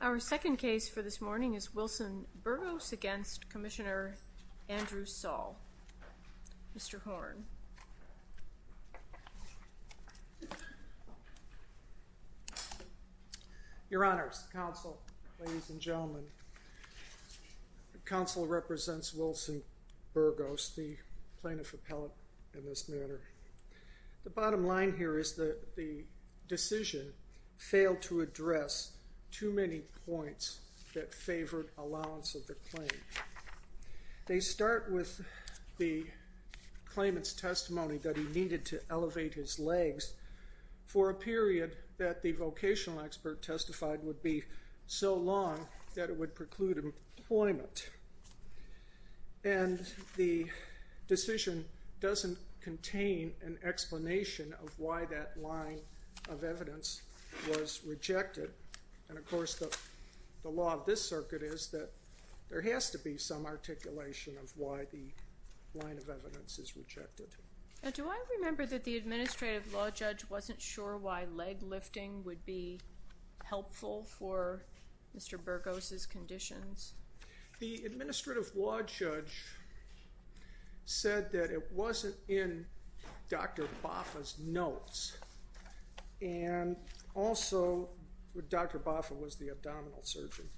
Our second case for this morning is Wilson Burgos v. Commissioner Andrew Saul. Mr. Horne. Your honors, counsel, ladies and gentlemen, counsel represents Wilson Burgos, the plaintiff appellate in this matter. The bottom line here is that the decision failed to address too many points that favored allowance of the claim. They start with the claimant's testimony that he needed to elevate his legs for a period that the vocational expert testified would be so long that it would preclude employment. And the decision doesn't contain an explanation of why that line of evidence was rejected. And, of course, the law of this circuit is that there has to be some articulation of why the line of evidence is rejected. Now, do I remember that the administrative law judge wasn't sure why leg lifting would be helpful for Mr. Burgos' conditions? The administrative law judge said that it wasn't in Dr. Bafa's notes. And also, Dr. Bafa was the abdominal surgeon.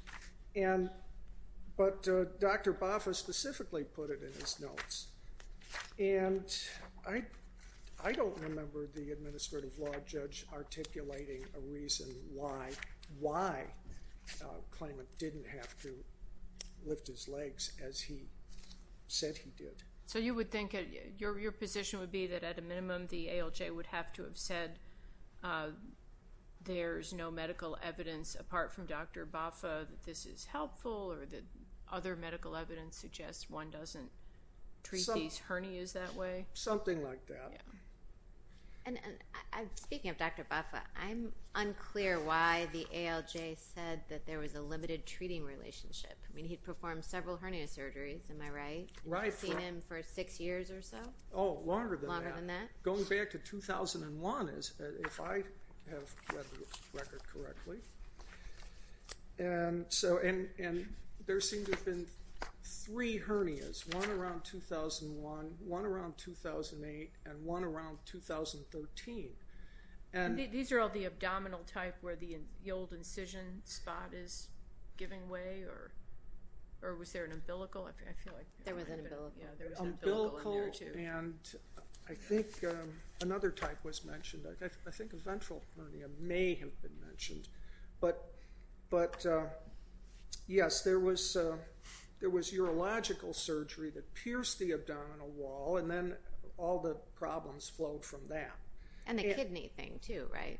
But Dr. Bafa specifically put it in his notes. And I don't remember the administrative law judge articulating a reason why claimant didn't have to lift his legs as he said he did. So you would think your position would be that at a minimum the ALJ would have to have said there's no medical evidence apart from Dr. Bafa that this is helpful or that other medical evidence suggests one doesn't treat these hernias that way? Something like that. Yeah. And speaking of Dr. Bafa, I'm unclear why the ALJ said that there was a limited treating relationship. I mean, he performed several hernia surgeries, am I right? Right. I've seen him for six years or so. Oh, longer than that. Longer than that. Going back to 2001, if I have read the record correctly, and there seem to have been three hernias, one around 2001, one around 2008, and one around 2013. These are all the abdominal type where the old incision spot is giving way or was there an umbilical? There was an umbilical. Yeah. There was an umbilical in there too. Umbilical and I think another type was mentioned, I think a ventral hernia may have been mentioned. But yes, there was urological surgery that pierced the abdominal wall and then all the problems flowed from that. And the kidney thing too, right?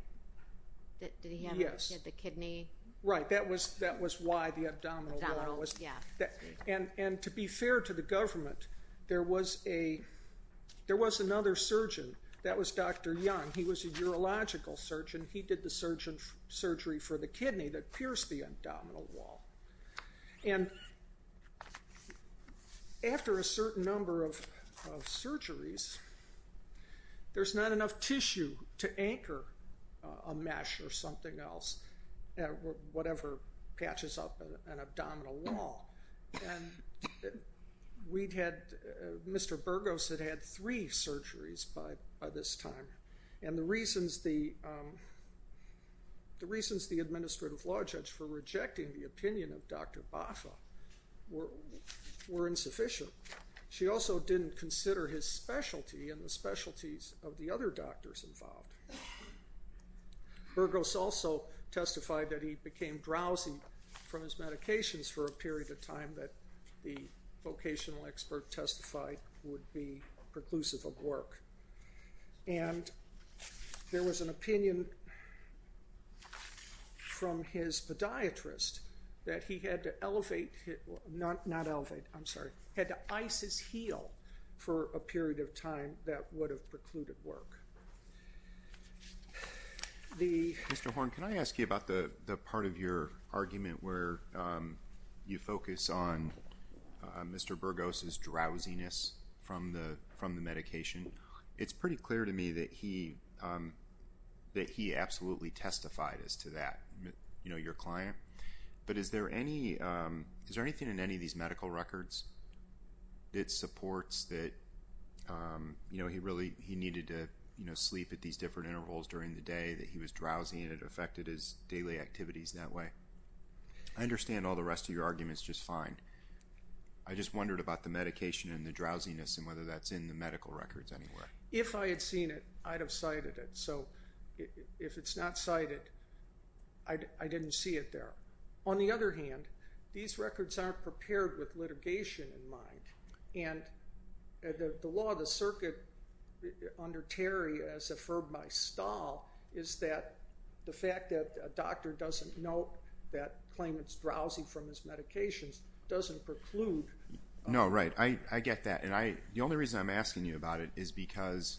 Yes. Did he have the kidney? Right. That was why the abdominal wall was... Abdominal. Yeah. And to be fair to the government, there was another surgeon, that was Dr. Young. He was a urological surgeon. He did the surgery for the kidney that pierced the abdominal wall. And after a certain number of surgeries, there's not enough tissue to anchor a mesh or something else, whatever patches up an abdominal wall. We'd had, Mr. Burgos had had three surgeries by this time. And the reasons the administrative law judge for rejecting the opinion of Dr. Bafa were insufficient. She also didn't consider his specialty and the specialties of the other doctors involved. Burgos also testified that he became drowsy from his medications for a period of time that the vocational expert testified would be preclusive of work. And there was an opinion from his podiatrist that he had to elevate, not elevate, I'm sorry, had to ice his heel for a period of time that would have precluded work. The... Mr. Horne, can I ask you about the part of your argument where you focus on Mr. Burgos' drowsiness from the medication? It's pretty clear to me that he absolutely testified as to that, you know, your client. But is there any... Is there anything in any of these medical records that supports that, you know, he really, he needed to, you know, sleep at these different intervals during the day, that he was drowsy and it affected his daily activities that way? I understand all the rest of your arguments just fine. I just wondered about the medication and the drowsiness and whether that's in the medical records anywhere. If I had seen it, I'd have cited it. So if it's not cited, I didn't see it there. On the other hand, these records aren't prepared with litigation in mind. And the law, the circuit under Terry as affirmed by Stahl is that the fact that a doctor doesn't note that claim it's drowsy from his medications doesn't preclude... No, right. I get that. And I... The only reason I'm asking you about it is because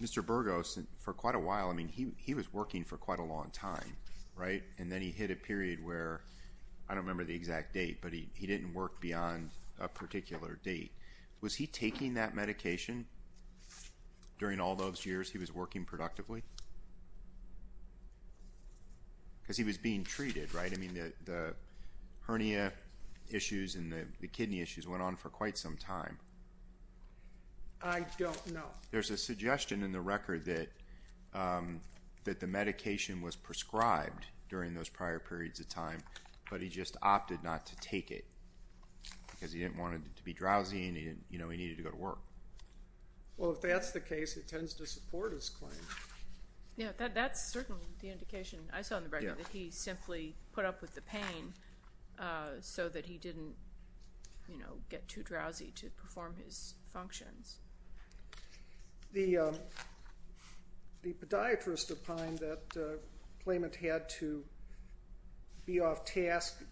Mr. Burgos, for quite a while, I mean, he was working for quite a long time, right? And then he hit a period where, I don't remember the exact date, but he didn't work beyond a particular date. Was he taking that medication during all those years he was working productively? Because he was being treated, right? I mean, the hernia issues and the kidney issues went on for quite some time. I don't know. There's a suggestion in the record that the medication was prescribed during those prior periods of time, but he just opted not to take it because he didn't want it to be drowsy and he needed to go to work. Well, if that's the case, it tends to support his claim. Yeah, that's certainly the indication I saw in the record that he simply put up with the pain so that he didn't get too drowsy to perform his functions. The podiatrist opined that claimant had to be off task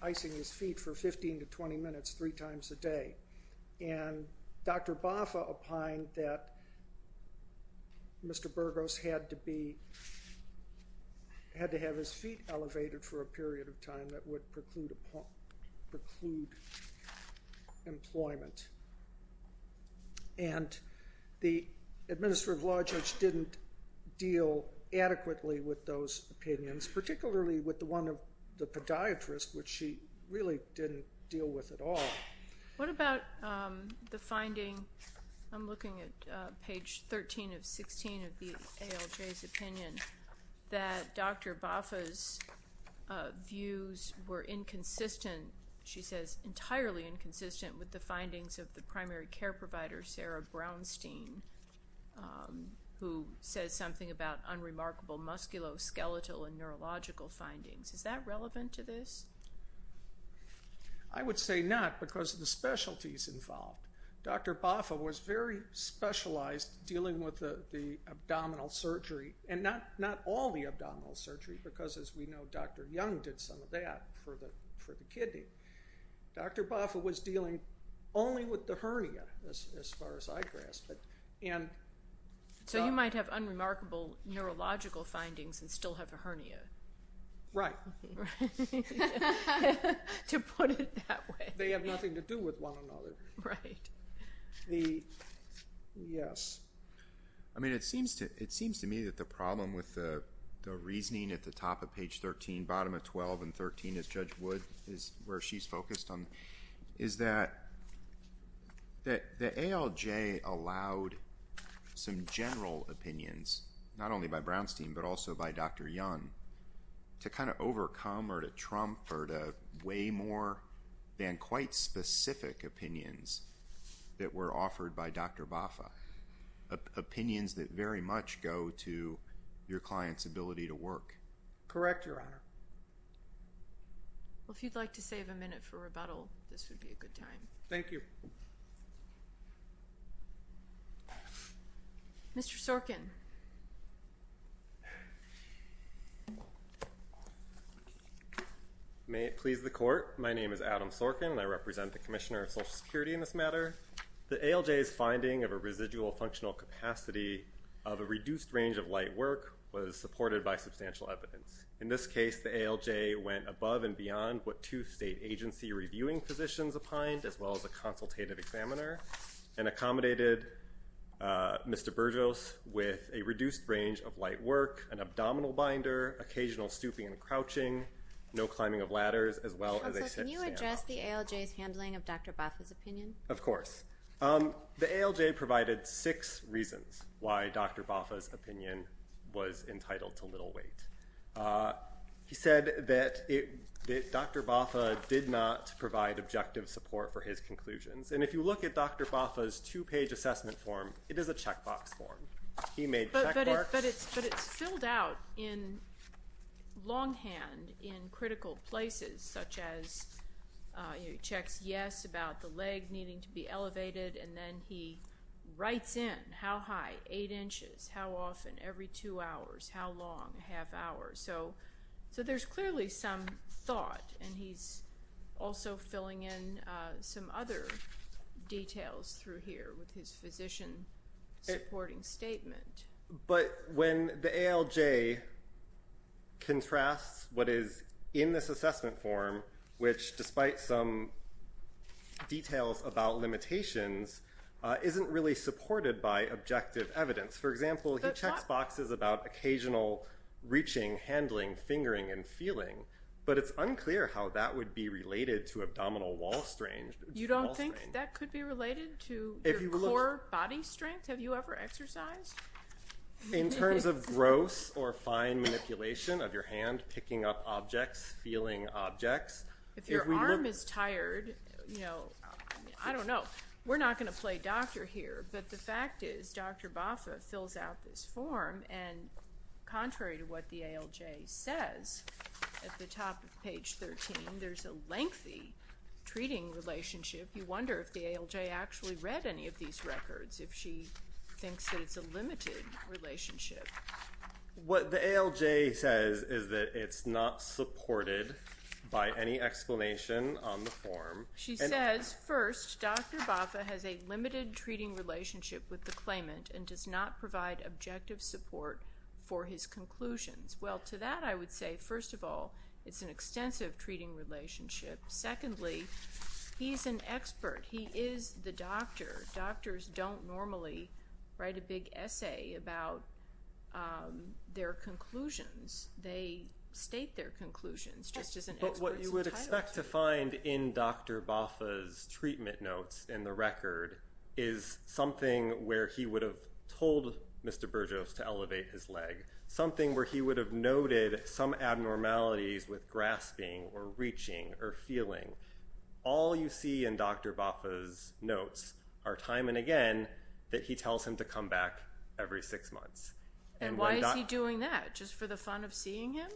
icing his feet for 15 to 20 minutes three times a day. And Dr. Bafa opined that Mr. Burgos had to have his feet elevated for a period of time that would preclude employment. And the Administrative Law Judge didn't deal adequately with those opinions, particularly with the one of the podiatrist, which she really didn't deal with at all. What about the finding, I'm looking at page 13 of 16 of the ALJ's opinion, that Dr. Bafa's views were inconsistent, she says entirely inconsistent, with the findings of the primary care provider, Sarah Brownstein, who says something about unremarkable musculoskeletal and neurological findings. Is that relevant to this? I would say not, because of the specialties involved. Dr. Bafa was very specialized dealing with the abdominal surgery, and not all the abdominal surgery, because as we know, Dr. Young did some of that for the kidney. Dr. Bafa was dealing only with the hernia, as far as I grasped it. So you might have unremarkable neurological findings and still have a hernia. Right. To put it that way. They have nothing to do with one another. Right. Yes. I mean, it seems to me that the problem with the reasoning at the top of page 13, bottom of 12 and 13, as Judge Wood, is where she's focused on, is that the ALJ allowed some general opinions, not only by Brownstein, but also by Dr. Young, to kind of overcome or to trump or to weigh more than quite specific opinions that were offered by Dr. Bafa. Opinions that very much go to your client's ability to work. Correct, Your Honor. Well, if you'd like to save a minute for rebuttal, this would be a good time. Thank you. Mr. Sorkin. May it please the Court. My name is Adam Sorkin, and I represent the Commissioner of Social Security in this matter. The ALJ's finding of a residual functional capacity of a reduced range of light work was supported by substantial evidence. In this case, the ALJ went above and beyond what two state agency reviewing positions opined, as well as a consultative examiner, and accommodated Mr. Burgos with a reduced range of light work, an abdominal binder, occasional stooping and crouching, no climbing of ladders, as well as a sit-stand option. Counsel, can you address the ALJ's handling of Dr. Bafa's opinion? Of course. The ALJ provided six reasons why Dr. Bafa's opinion was entitled to little weight. He said that Dr. Bafa did not provide objective support for his conclusions. And if you look at Dr. Bafa's two-page assessment form, it is a checkbox form. He made checkmarks. But it's filled out in longhand in critical places, such as he checks yes about the leg needing to be elevated, and then he writes in how high, eight inches, how often, every two hours, how long, half hour. So there's clearly some thought. And he's also filling in some other details through here with his physician-supporting statement. But when the ALJ contrasts what is in this assessment form, which, despite some details about limitations, isn't really supported by objective evidence. For example, he checks boxes about occasional reaching, handling, fingering, and feeling. But it's unclear how that would be related to abdominal wall strain. You don't think that could be related to your core body strength? Have you ever exercised? In terms of gross or fine manipulation of your hand, picking up objects, feeling objects. If your arm is tired, you know, I don't know. We're not going to play doctor here. But the fact is, Dr. Bafa fills out this form, and contrary to what the ALJ says, at the top of page 13, there's a lengthy treating relationship. You wonder if the ALJ actually read any of these records, if she thinks that it's a limited relationship. What the ALJ says is that it's not supported by any explanation on the form. She says, first, Dr. Bafa has a limited treating relationship with the claimant and does not provide objective support for his conclusions. Well, to that I would say, first of all, it's an extensive treating relationship. Secondly, he's an expert. He is the doctor. Doctors don't normally write a big essay about their conclusions. They state their conclusions, just as an expert's entitled to. What you tend to find in Dr. Bafa's treatment notes in the record is something where he would have told Mr. Burgos to elevate his leg, something where he would have noted some abnormalities with grasping or reaching or feeling. All you see in Dr. Bafa's notes are, time and again, that he tells him to come back every six months. And why is he doing that? Just for the fun of seeing him?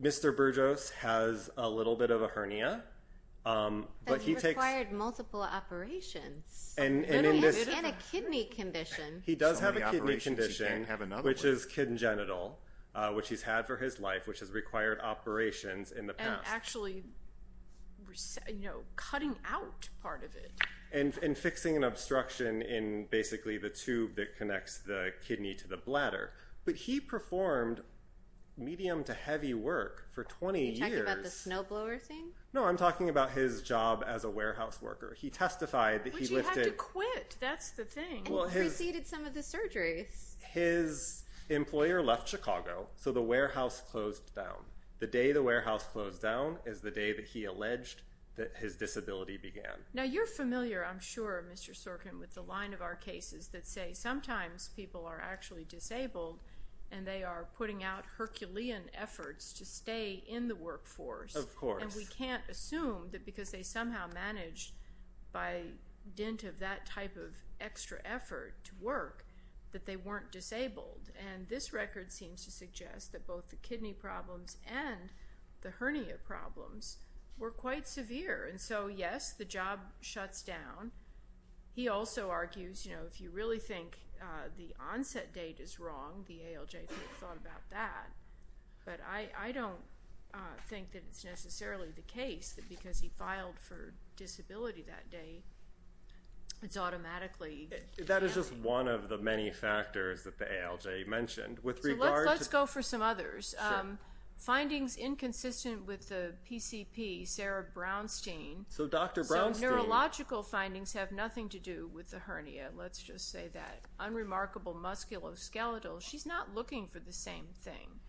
Mr. Burgos has a little bit of a hernia. But he required multiple operations. And a kidney condition. He does have a kidney condition, which is congenital, which he's had for his life, which has required operations in the past. And actually cutting out part of it. And fixing an obstruction in basically the tube that connects the kidney to the bladder. But he performed medium to heavy work for 20 years. Are you talking about the snowblower thing? No, I'm talking about his job as a warehouse worker. He testified that he lifted... But you had to quit. That's the thing. And you preceded some of the surgeries. His employer left Chicago, so the warehouse closed down. The day the warehouse closed down is the day that he alleged that his disability began. Now, you're familiar, I'm sure, Mr. Sorkin, with the line of our cases that say, sometimes people are actually disabled and they are putting out Herculean efforts to stay in the workforce. Of course. And we can't assume that because they somehow managed by dint of that type of extra effort to work that they weren't disabled. And this record seems to suggest that both the kidney problems and the hernia problems were quite severe. And so, yes, the job shuts down. He also argues, you know, if you really think the onset date is wrong, the ALJ could have thought about that. But I don't think that it's necessarily the case that because he filed for disability that day it's automatically... That is just one of the many factors that the ALJ mentioned. Let's go for some others. Sure. Findings inconsistent with the PCP, Sarah Brownstein. So Dr. Brownstein... Her kidneys have nothing to do with the hernia. Let's just say that. Unremarkable musculoskeletal. She's not looking for the same thing.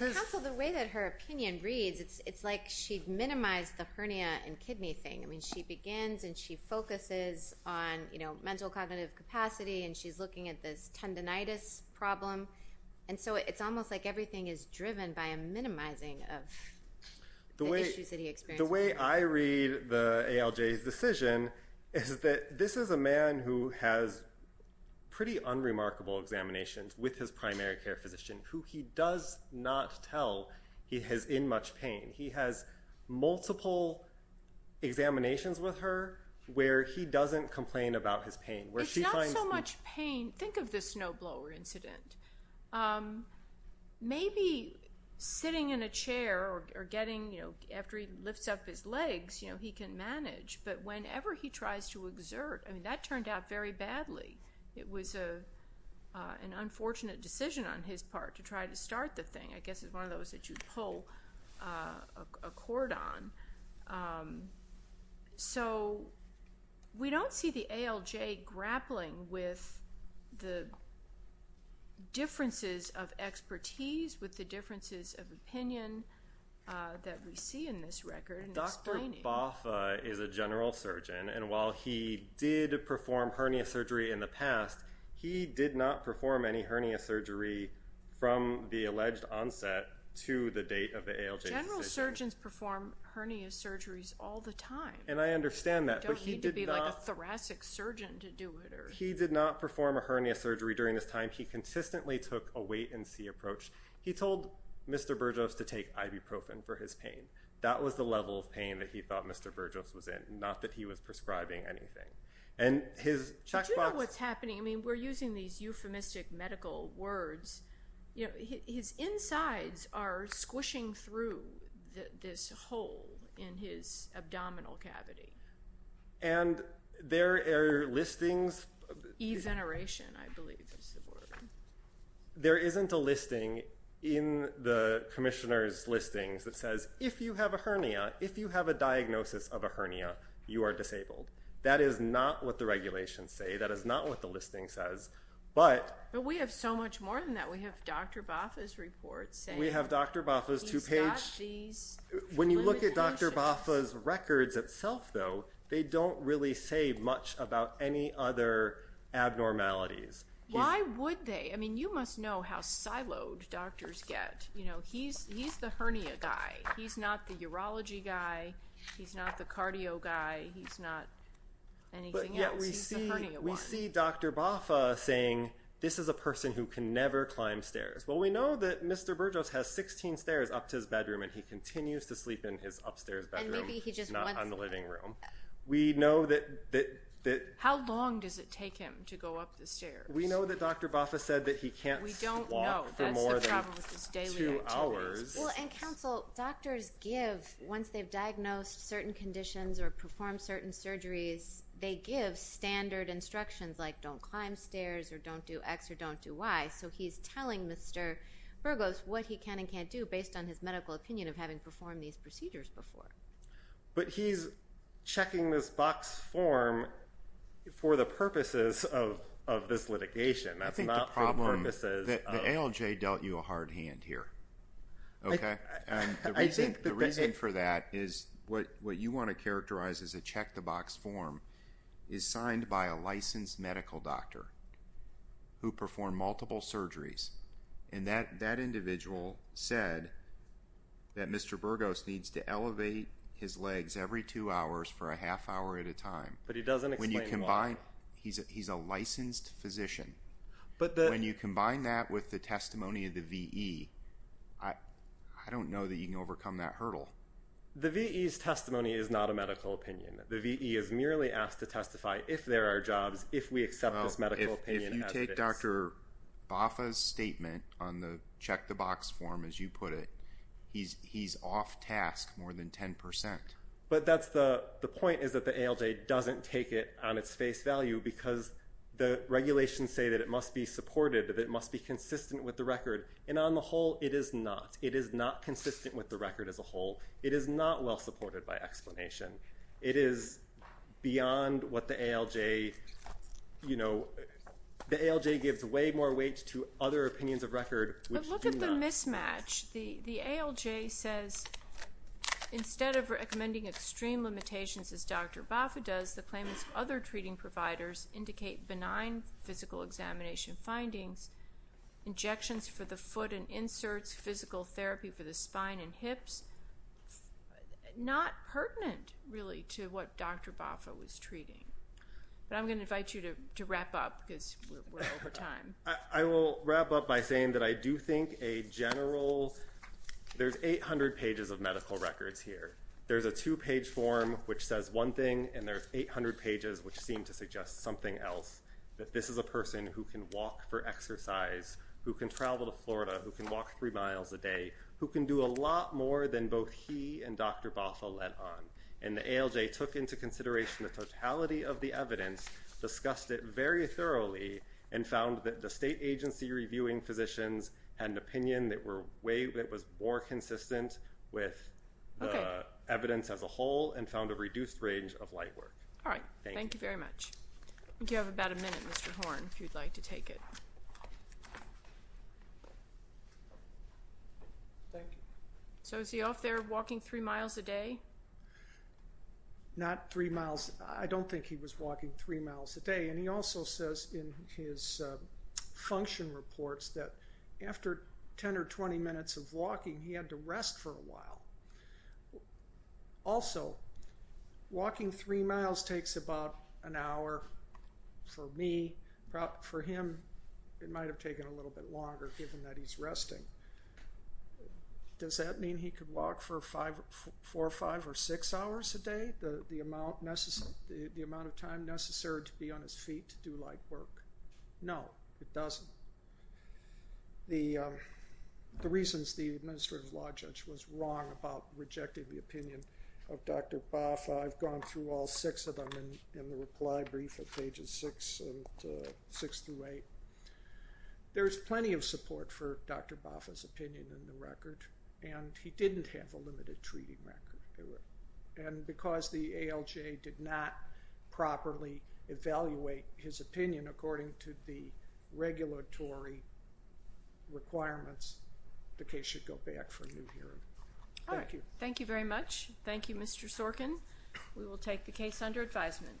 Counsel, the way that her opinion reads, it's like she minimized the hernia and kidney thing. I mean, she begins and she focuses on, you know, mental cognitive capacity, and she's looking at this tendinitis problem. And so it's almost like everything is driven by a minimizing of the issues that he experienced. The way I read the ALJ's decision is that this is a man who has pretty unremarkable examinations with his primary care physician, who he does not tell he is in much pain. He has multiple examinations with her where he doesn't complain about his pain. It's not so much pain. Think of the snowblower incident. Maybe sitting in a chair or getting, you know, after he lifts up his legs, you know, he can manage. But whenever he tries to exert, I mean, that turned out very badly. It was an unfortunate decision on his part to try to start the thing. I guess it's one of those that you pull a cord on. So we don't see the ALJ grappling with the differences of expertise, with the differences of opinion that we see in this record. Dr. Boffa is a general surgeon, and while he did perform hernia surgery in the past, he did not perform any hernia surgery from the alleged onset to the date of the ALJ's decision. General surgeons perform hernia surgeries all the time. And I understand that. You don't need to be, like, a thoracic surgeon to do it. He did not perform a hernia surgery during this time. He consistently took a wait-and-see approach. He told Mr. Burgos to take ibuprofen for his pain. That was the level of pain that he thought Mr. Burgos was in, not that he was prescribing anything. Did you know what's happening? I mean, we're using these euphemistic medical words. His insides are squishing through this hole in his abdominal cavity. And there are listings. Eveneration, I believe is the word. There isn't a listing in the commissioner's listings that says, if you have a hernia, if you have a diagnosis of a hernia, you are disabled. That is not what the regulations say. That is not what the listing says. But we have so much more than that. We have Dr. Bafa's report saying he's got these limitations. When you look at Dr. Bafa's records itself, though, they don't really say much about any other abnormalities. Why would they? I mean, you must know how siloed doctors get. You know, he's the hernia guy. He's not the urology guy. He's not the cardio guy. He's not anything else. He's the hernia one. We see Dr. Bafa saying, this is a person who can never climb stairs. Well, we know that Mr. Burgos has 16 stairs up to his bedroom, and he continues to sleep in his upstairs bedroom, not on the living room. And maybe he just wants to. How long does it take him to go up the stairs? We know that Dr. Bafa said that he can't walk for more than two hours. We don't know. That's the problem with his daily activities. Well, and, counsel, doctors give, once they've diagnosed certain conditions or performed certain surgeries, they give standard instructions, like don't climb stairs or don't do X or don't do Y. So he's telling Mr. Burgos what he can and can't do, based on his medical opinion of having performed these procedures before. But he's checking this box form for the purposes of this litigation. That's not for the purposes of. I think the problem, the ALJ dealt you a hard hand here, okay? The reason for that is what you want to characterize as a check-the-box form is signed by a licensed medical doctor who performed multiple surgeries. And that individual said that Mr. Burgos needs to elevate his legs every two hours for a half hour at a time. But he doesn't explain why. He's a licensed physician. When you combine that with the testimony of the V.E., I don't know that you can overcome that hurdle. The V.E.'s testimony is not a medical opinion. The V.E. is merely asked to testify if there are jobs, if we accept this medical opinion as it is. If you take Dr. Bafa's statement on the check-the-box form, as you put it, he's off task more than 10%. But the point is that the ALJ doesn't take it on its face value because the regulations say that it must be supported, that it must be consistent with the record. And on the whole, it is not. It is not consistent with the record as a whole. It is not well supported by explanation. It is beyond what the ALJ, you know, the ALJ gives way more weight to other opinions of record which do not. But look at the mismatch. The ALJ says instead of recommending extreme limitations as Dr. Bafa does, the claimants of other treating providers indicate benign physical examination findings, injections for the foot and inserts, physical therapy for the spine and hips, not pertinent really to what Dr. Bafa was treating. But I'm going to invite you to wrap up because we're over time. I will wrap up by saying that I do think a general – there's 800 pages of medical records here. There's a two-page form which says one thing and there's 800 pages which seem to suggest something else, that this is a person who can walk for exercise, who can travel to Florida, who can walk three miles a day, who can do a lot more than both he and Dr. Bafa led on. And the ALJ took into consideration the totality of the evidence, discussed it very thoroughly, and found that the state agency reviewing physicians had an opinion that was more consistent with the evidence as a whole and found a reduced range of light work. All right. Thank you. Thank you very much. You have about a minute, Mr. Horn, if you'd like to take it. Thank you. So is he off there walking three miles a day? Not three miles. I don't think he was walking three miles a day. And he also says in his function reports that after 10 or 20 minutes of walking, he had to rest for a while. Also, walking three miles takes about an hour for me. For him, it might have taken a little bit longer given that he's resting. Does that mean he could walk for four, five, or six hours a day, the amount of time necessary to be on his feet to do light work? No, it doesn't. The reasons the administrative law judge was wrong about rejecting the opinion of Dr. Bafa, I've gone through all six of them in the reply brief at pages six through eight. There's plenty of support for Dr. Bafa's opinion in the record, and he didn't have a limited treating record. And because the ALJ did not properly evaluate his opinion according to the regulatory requirements, the case should go back for a new hearing. All right. Thank you. Thank you very much. Thank you, Mr. Sorkin. We will take the case under advisement.